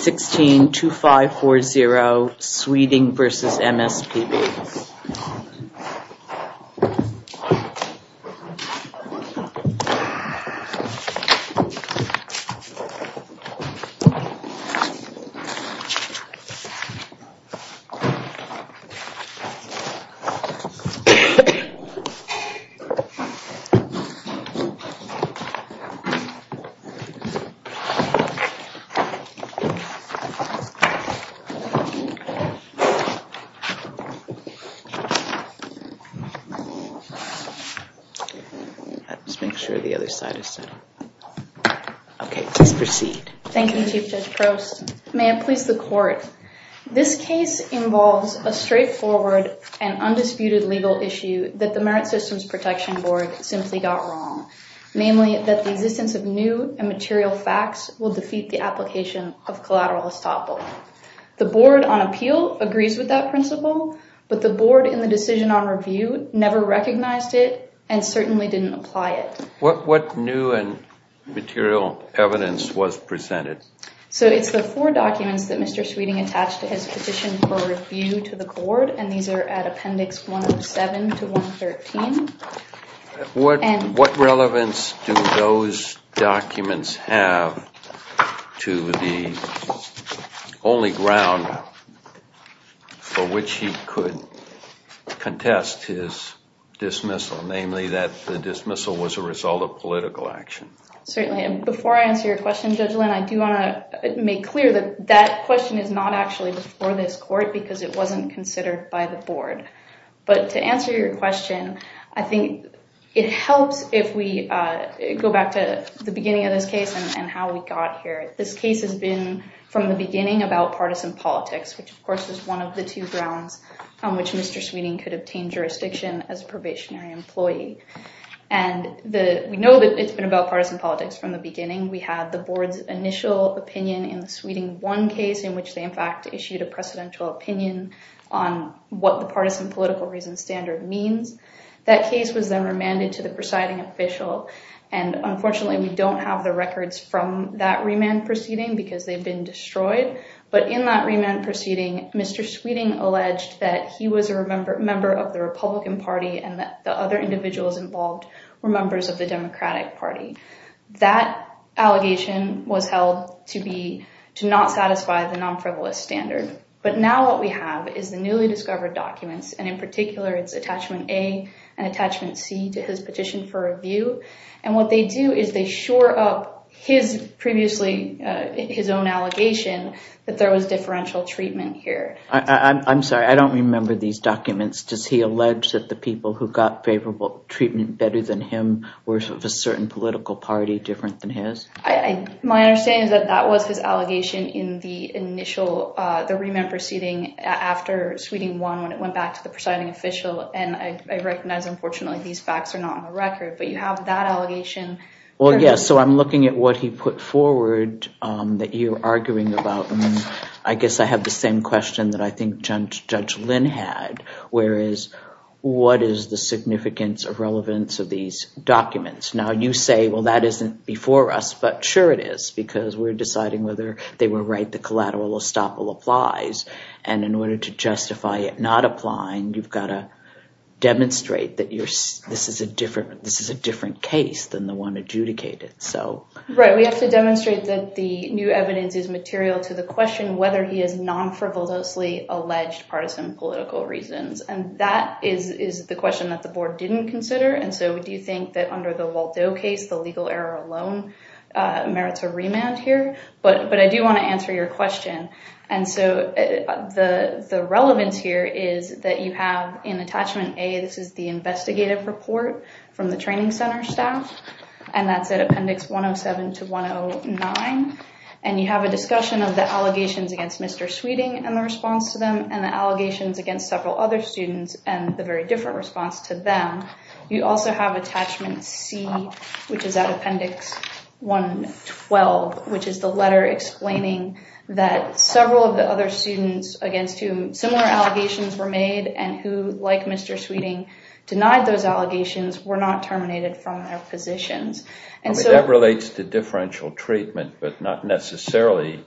16, 2540, Sweden versus MSPB. Thank you, Chief Judge Prost. May it please the Court. This case involves a straightforward and undisputed legal issue that the Merit Systems Protection Board simply got wrong, namely that the existence of new and material facts will defeat the application of collateral estoppel. The board on appeal agrees with that principle, but the board in the decision on review never recognized it and certainly didn't apply it. What new and material evidence was presented? So it's the four documents that Mr. Sweeting attached to his petition for review to the board, and these are at Appendix 107 to 113. And what relevance do those documents have to the only ground for which he could contest his dismissal, namely that the dismissal was a result of political action? Certainly. And before I answer your question, Judge Lynn, I do want to make clear that that question is not actually before this court because it wasn't considered by the board. But to answer your question, I think it helps if we go back to the beginning of this case and how we got here. This case has been from the beginning about partisan politics, which of course is one of the two grounds on which Mr. Sweeting could obtain jurisdiction as a probationary employee. And we know that it's been about partisan politics from the beginning. We have the board's initial opinion in the Sweeting 1 case in which they in fact issued a precedential opinion on what the partisan political reason standard means. That case was then remanded to the presiding official, and unfortunately we don't have the records from that remand proceeding because they've been destroyed. But in that remand proceeding, Mr. Sweeting alleged that he was a member of the Republican Party and that the other individuals involved were members of the Democratic Party. That allegation was held to not satisfy the non-frivolous standard. But now what we have is the newly discovered documents, and in particular it's attachment A and attachment C to his petition for review. And what they do is they shore up his previously, his own allegation that there was differential treatment here. I'm sorry, I don't remember these documents. Does he allege that the people who got favorable treatment better than him were of a certain political party different than his? My understanding is that that was his allegation in the initial, the remand proceeding after Sweeting 1 when it went back to the presiding official, and I recognize unfortunately these facts are not on the record, but you have that allegation. Well yes, so I'm looking at what he put forward that you're arguing about. I guess I have the same question that I think Judge Lynn had, whereas what is the significance of relevance of these documents? Now you say, well that isn't before us, but sure it is because we're deciding whether they were right, the collateral estoppel applies. And in order to justify it not applying, you've got to demonstrate that this is a different case than the one adjudicated. Right, we have to demonstrate that the new evidence is material to the question whether he has non-frivolously alleged partisan political reasons. And that is the question that the board didn't consider. And so do you think that under the Waldo case, the legal error alone merits a remand here? But I do want to answer your question. And so the relevance here is that you have in attachment A, this is the investigative report from the training center staff, and that's at appendix 107 to 109. And you have a discussion of the allegations against Mr. Sweeting and the response to them, and the allegations against several other students and the very different response to them. You also have attachment C, which is at appendix 112, which is the letter explaining that several of the other students against whom similar allegations were made and who, like Mr. Sweeting, denied those allegations were not terminated from their positions. And so that relates to differential treatment, but not necessarily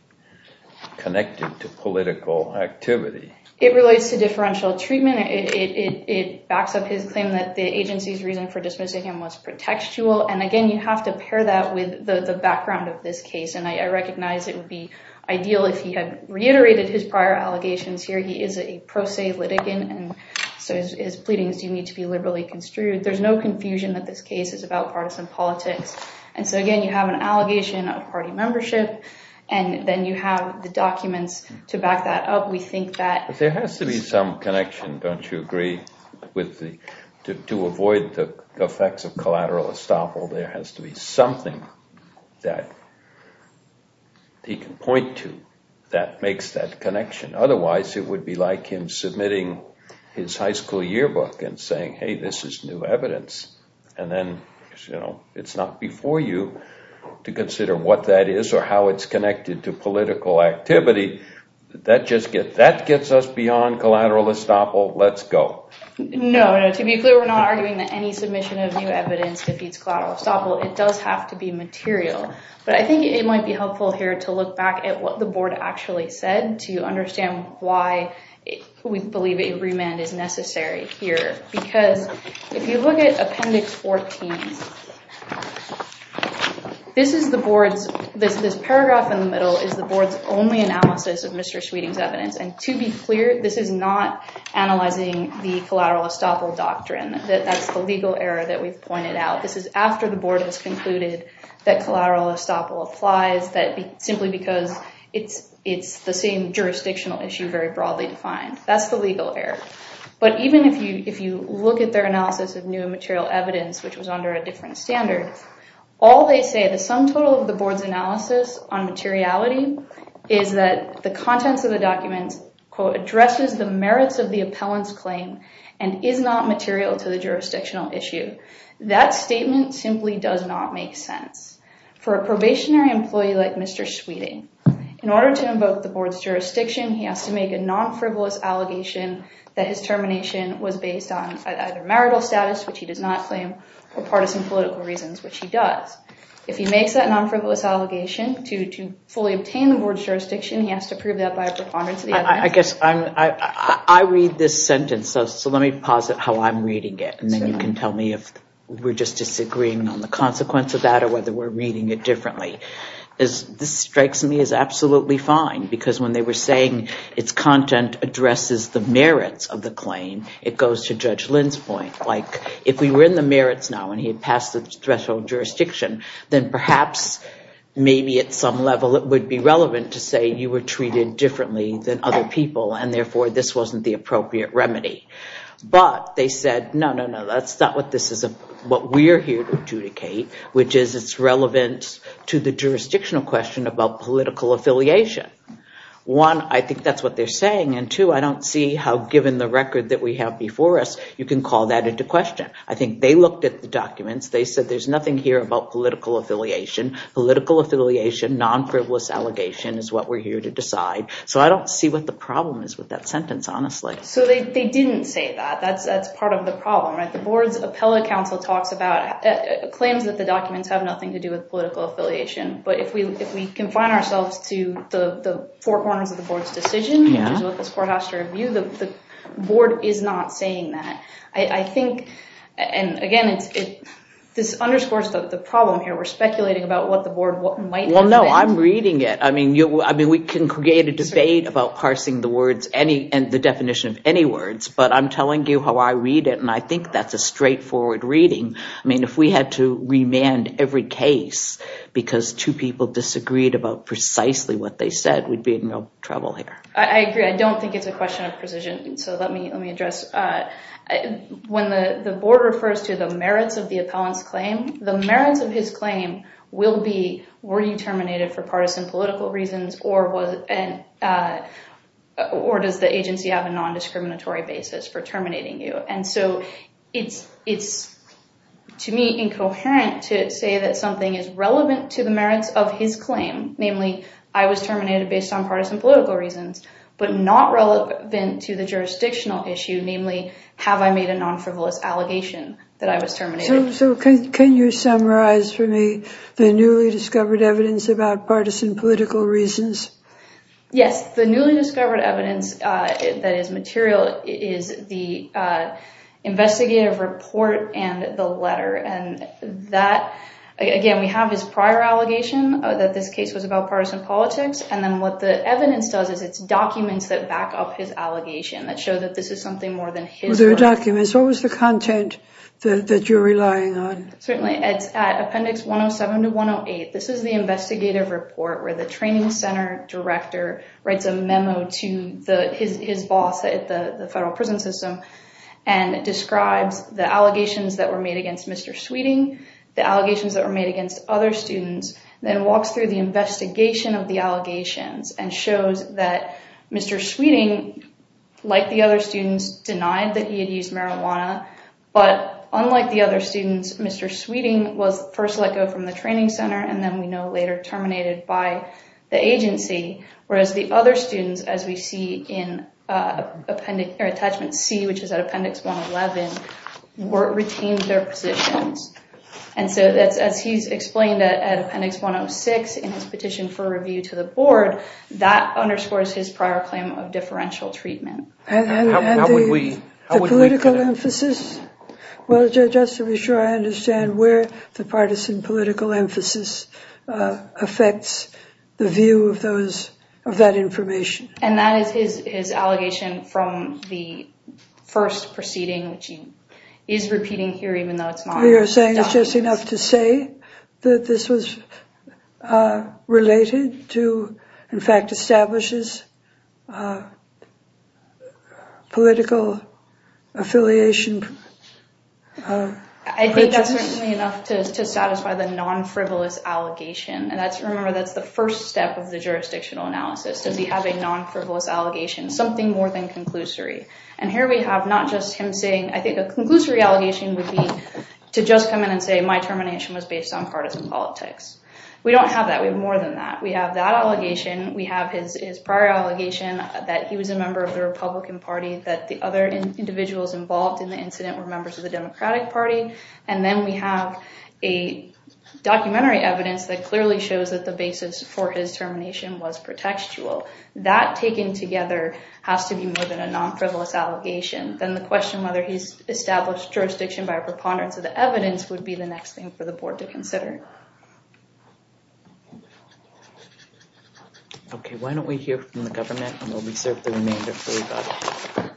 connected to political activity. It relates to differential treatment. It backs up his claim that the agency's reason for dismissing him was pretextual. And again, you have to pair that with the background of this case. And I recognize it would be ideal if he had reiterated his prior allegations here. He is a pro se litigant, and so his pleadings do need to be liberally construed. There's no confusion that this case is about partisan politics. And so again, you have an allegation of party membership, and then you have the documents to back that up. There has to be some connection. Don't you agree? To avoid the effects of collateral estoppel, there has to be something that he can point to that makes that connection. Otherwise, it would be like him submitting his high school yearbook and saying, hey, this is new evidence. And then it's not before you to consider what that is or how it's connected to political activity. That gets us beyond collateral estoppel. Let's go. No, to be clear, we're not arguing that any submission of new evidence defeats collateral estoppel. It does have to be material. But I think it might be helpful here to look back at what the board actually said to understand why we believe a remand is necessary here. Because if you look at appendix 14, this paragraph in the middle is the board's only analysis of Mr. Sweeting's evidence. And to be clear, this is not analyzing the collateral estoppel doctrine. That's the legal error that we've pointed out. This is after the board has concluded that collateral estoppel applies simply because it's the same jurisdictional issue very broadly defined. That's the legal error. But even if you look at their analysis of new material evidence, which was under a different standard, all they say, the sum total of the board's analysis on materiality, is that the contents of the documents, quote, addresses the merits of the appellant's claim and is not material to the jurisdictional issue. That statement simply does not make sense. For a probationary employee like Mr. Sweeting, in order to invoke the board's jurisdiction, he has to make a non-frivolous allegation that his termination was based on either marital status, which he does not claim, or partisan political reasons, which he does. If he makes that non-frivolous allegation to fully obtain the board's jurisdiction, he has to prove that by a preponderance of the evidence. I guess I read this sentence. So let me posit how I'm reading it. And then you can tell me if we're just disagreeing on the consequence of that or whether we're reading it differently. This strikes me as absolutely fine. Because when they were saying its content addresses the merits of the claim, it goes to Judge Lynn's point. Like, if we were in the merits now and he had passed the threshold jurisdiction, then perhaps maybe at some level it would be relevant to say you were treated differently than other people and therefore this wasn't the appropriate remedy. But they said, no, no, no, that's not what we're here to adjudicate, which is it's relevant to the jurisdictional question about political affiliation. One, I think that's what they're saying. And two, I don't see how given the record that we have before us, you can call that into question. I think they looked at the documents. They said there's nothing here about political affiliation. Political affiliation, non-frivolous allegation is what we're here to decide. So I don't see what the problem is with that sentence, honestly. So they didn't say that. That's part of the problem. The board's appellate counsel talks about claims that the documents have nothing to do with political affiliation. But if we confine ourselves to the four corners of the board's decision, which is what this court has to review, the board is not saying that. I think, and again, this underscores the problem here. We're speculating about what the board might have read. Well, no, I'm reading it. I mean, we can create a debate about parsing the definition of any words. But I'm telling you how I read it. And I think that's a straightforward reading. I mean, if we had to remand every case because two people disagreed about precisely what they said, we'd be in real trouble here. I agree. I don't think it's a question of precision. So let me address. When the board refers to the merits of the appellant's claim, the merits of his claim will be, were you terminated for partisan political reasons, or does the agency have a non-discriminatory basis for terminating you? And so it's, to me, incoherent to say that something is relevant to the merits of his claim, but not relevant to the jurisdictional issue, namely, have I made a non-frivolous allegation that I was terminated? So can you summarize for me the newly discovered evidence about partisan political reasons? Yes. The newly discovered evidence that is material is the investigative report and the letter. And that, again, we have his prior allegation that this case was about partisan politics. And then what the evidence does is it's documents that back up his allegation that show that this is something more than his. Well, they're documents. What was the content that you're relying on? Certainly. It's at appendix 107 to 108. This is the investigative report where the training center director writes a memo to his boss at the federal prison system and describes the allegations that were made against Mr. Sweeting, the allegations that were made against other students, then walks through the investigation of the allegations and shows that Mr. Sweeting, like the other students, denied that he had used marijuana. But unlike the other students, Mr. Sweeting was first let go from the training center, and then we know later terminated by the agency, whereas the other students, as we see in attachment C, which is at appendix 111, retained their positions. And so as he's explained at appendix 106 in his petition for review to the board, that underscores his prior claim of differential treatment. And the political emphasis? Well, just to be sure I understand where the partisan political emphasis affects the view of that information. And that is his allegation from the first proceeding, which he is repeating here, you're saying it's just enough to say that this was related to, in fact, establishes political affiliation. I think that's certainly enough to satisfy the non-frivolous allegation. And remember, that's the first step of the jurisdictional analysis, to be having non-frivolous allegations, something more than conclusory. And here we have not just him saying, I think a conclusory allegation would be to just come in and say my termination was based on partisan politics. We don't have that. We have more than that. We have that allegation. We have his prior allegation that he was a member of the Republican Party, that the other individuals involved in the incident were members of the Democratic Party. And then we have a documentary evidence that clearly shows that the basis for his termination was pretextual. That taken together has to be more than a non-frivolous allegation. Then the question whether he's established jurisdiction by a preponderance of the evidence would be the next thing for the board to consider. Okay. Why don't we hear from the government and we'll reserve the remainder for you, Bob.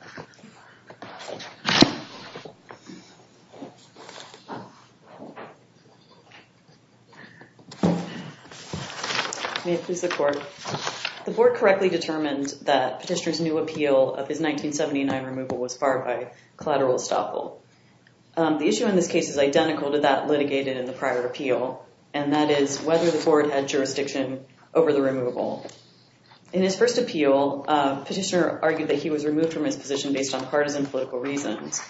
May it please the court. The board correctly determined that Petitioner's new appeal of his 1979 removal was barred by collateral estoppel. The issue in this case is identical to that litigated in the prior appeal, and that is whether the board had jurisdiction over the removal. In his first appeal, Petitioner argued that he was removed from his position based on partisan political reasons.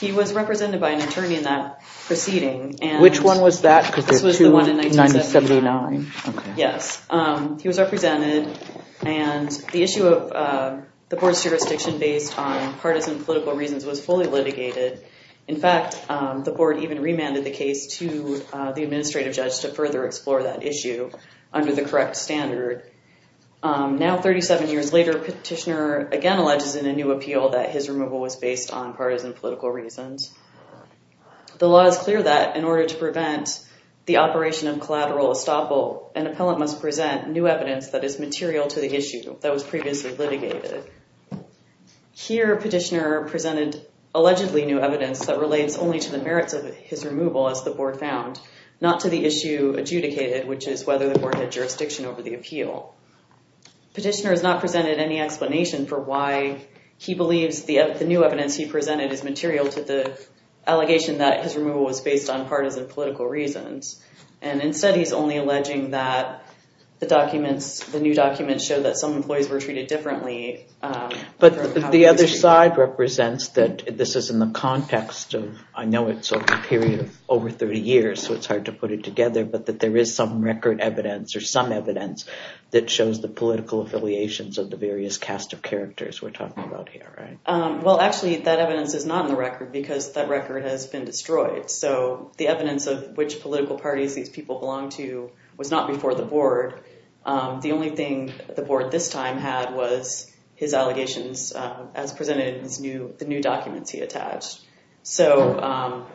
He was represented by an attorney in that proceeding. Which one was that? This was the one in 1979. Yes. He was represented and the issue of the board's jurisdiction based on partisan political reasons was fully litigated. In fact, the board even remanded the case to the administrative judge to further explore that issue under the correct standard. Now 37 years later, Petitioner again alleges in a new appeal that his removal was based on partisan political reasons. The law is clear that in order to prevent the operation of collateral estoppel, an appellant must present new evidence that is material to the issue that was previously litigated. Here, Petitioner presented allegedly new evidence that relates only to the merits of his removal, as the board found, not to the issue adjudicated, which is whether the board had jurisdiction over the appeal. Petitioner has not presented any explanation for why he believes the new evidence he presented is material to the allegation that his removal was based on partisan political reasons. And instead, he's only alleging that the documents, the new documents show that some employees were treated differently. But the other side represents that this is in the context of, I know it's over a period of over 30 years, so it's hard to put it together, but that there is some record evidence or some evidence that shows the political affiliations of the various cast of characters we're talking about here, right? Well, actually, that evidence is not in the record because that record has been destroyed. So the evidence of which political parties these people belong to was not before the board. The only thing the board this time had was his allegations as presented in the new documents he attached. So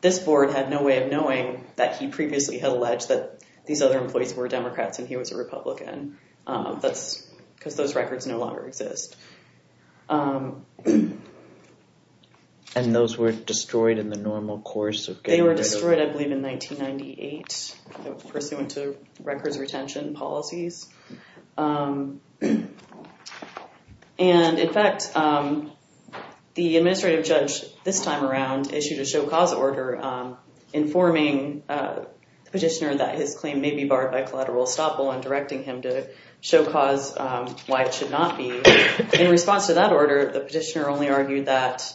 this board had no way of knowing that he previously had alleged that these other employees were Democrats and he was a Republican. That's because those records no longer exist. And those were destroyed in the normal course of getting rid of- They were destroyed, I believe, in 1998, pursuant to records retention policies. And in fact, the administrative judge this time around issued a show cause order informing the petitioner that his claim may be barred by collateral estoppel and directing him to show cause why it should not be. In response to that order, the petitioner only argued that-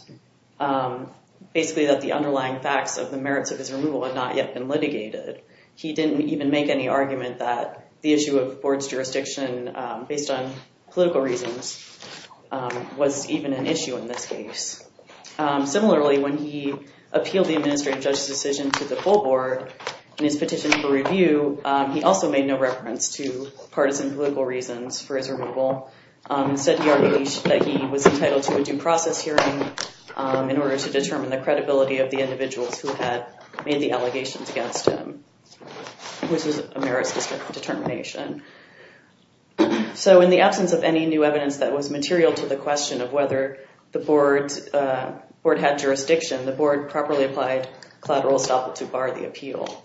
basically that the underlying facts of the merits of his removal had not yet been litigated. He didn't even make any argument that the issue of board's jurisdiction based on political reasons was even an issue in this case. Similarly, when he appealed the administrative judge's decision to the full board in his petition for review, he also made no reference to partisan political reasons for his removal. He said he was entitled to a due process hearing in order to determine the credibility of the individuals who had made the allegations against him, which was a merits determination. So in the absence of any new evidence that was material to the question of whether the board had jurisdiction, the board properly applied collateral estoppel to bar the appeal.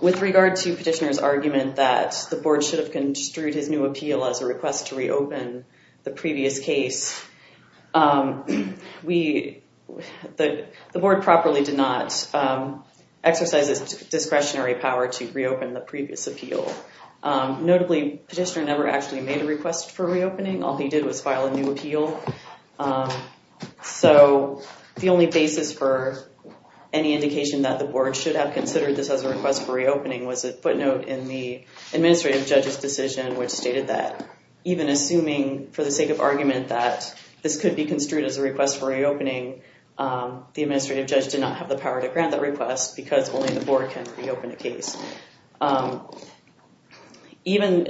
With regard to petitioner's argument that the board should have construed his new appeal as a request to reopen the previous case, the board properly did not exercise its discretionary power to reopen the previous appeal. Notably, petitioner never actually made a request for reopening. All he did was file a new appeal. So the only basis for any indication that the board should have considered this as a request for reopening was a footnote in the administrative judge's decision, which stated that even assuming for the sake of argument that this could be construed as a request for reopening, the administrative judge did not have the power to grant that request because only the board can reopen a case. Even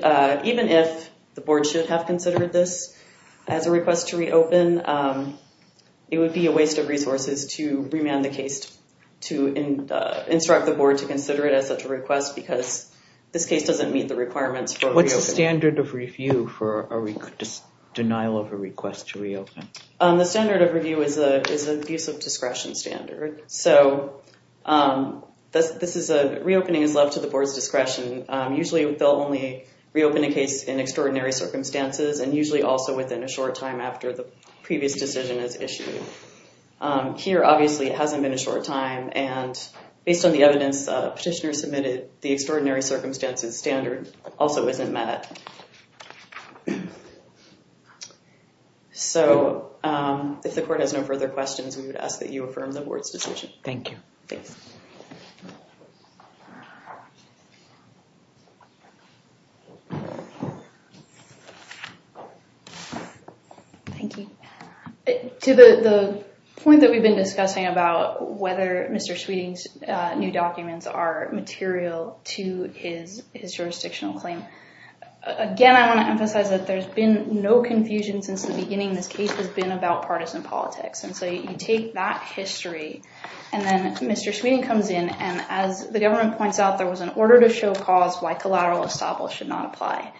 if the board should have considered this as a request to reopen, it would be a waste of resources to remand the case to instruct the board to consider it as such a request because this case doesn't meet the requirements for reopening. What's the standard of review for a denial of a request to reopen? The standard of review is an abuse of discretion standard. So reopening is left to the board's discretion. Usually, they'll only reopen a case in extraordinary circumstances and usually also within a short time after the previous decision is issued. Here, obviously, it hasn't been a short time. And based on the evidence petitioner submitted, the extraordinary circumstances standard also isn't met. So if the court has no further questions, we would ask that you affirm the board's decision. Thank you. Thank you. Thank you. To the point that we've been discussing about whether Mr. Sweeting's new documents are material to his jurisdictional claim, again, I want to emphasize that there's been no confusion since the beginning. This case has been about partisan politics. And so you take that history, and then Mr. Sweeting comes in. And as the government points out, there was an order to show cause why collateral estoppel should not apply.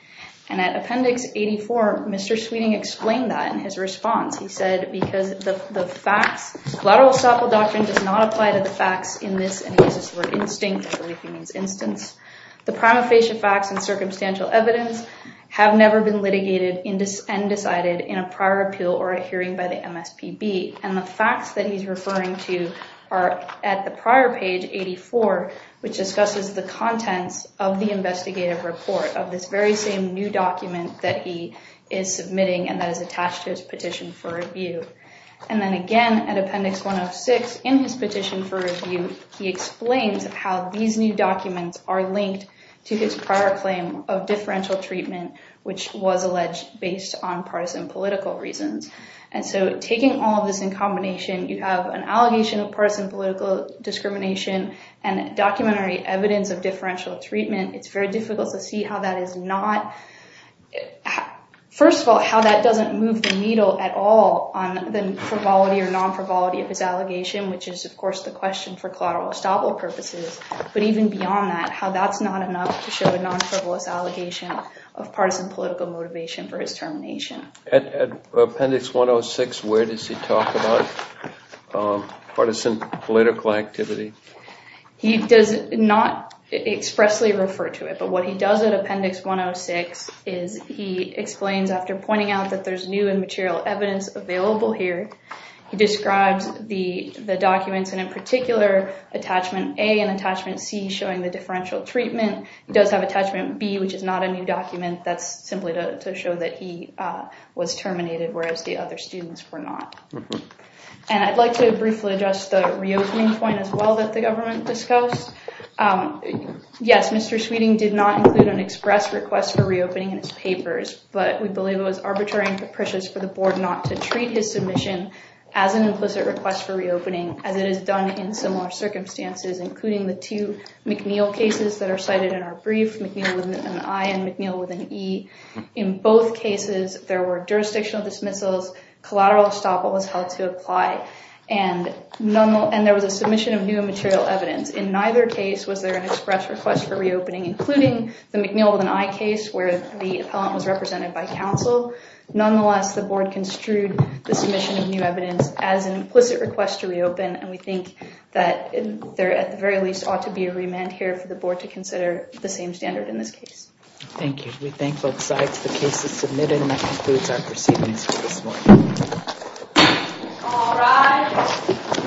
And at Appendix 84, Mr. Sweeting explained that in his response. He said, because the facts, collateral estoppel doctrine does not apply to the facts in this and uses the word instinct, I believe he means instance. The prima facie facts and circumstantial evidence have never been litigated and decided in a prior appeal or a hearing by the MSPB. And the facts that he's referring to are at the prior page 84, which discusses the contents of the investigative report of this very same new document that he is submitting and that is attached to his petition for review. And then again, at Appendix 106 in his petition for review, he explains how these new documents are linked to his prior claim of differential treatment, which was alleged based on partisan political reasons. And so taking all of this in combination, you have an allegation of partisan political discrimination and documentary evidence of differential treatment. It's very difficult to see how that is not. First of all, how that doesn't move the needle at all on the frivolity or non-frivolity of his allegation, which is, of course, the question for collateral estoppel purposes. But even beyond that, how that's not enough to show a non-frivolous allegation of partisan political motivation for his termination. At Appendix 106, where does he talk about partisan political activity? He does not expressly refer to it. But what he does at Appendix 106 is he explains, after pointing out that there's new and material evidence available here, he describes the documents, and in particular, Attachment A and Attachment C showing the differential treatment. He does have Attachment B, which is not a new document. That's simply to show that he was terminated, whereas the other students were not. And I'd like to briefly address the reopening point, as well, that the government discussed. Yes, Mr. Sweeting did not include an express request for reopening in his papers. But we believe it was arbitrary and capricious for the board not to treat his submission as an implicit request for reopening, as it is done in similar circumstances, including the two McNeil cases that are cited in our brief, McNeil with an I and McNeil with an E. In both cases, there were jurisdictional dismissals, collateral estoppel was held to apply, and there was a submission of new and material evidence. In neither case was there an express request for reopening, including the McNeil with an I case, where the appellant was represented by counsel. Nonetheless, the board construed the submission of new evidence as an implicit request to reopen. And we think that there, at the very least, ought to be a remand here for the board to consider the same standard in this case. Thank you. We thank both sides for cases submitted, and that concludes our proceedings for this morning. All rise.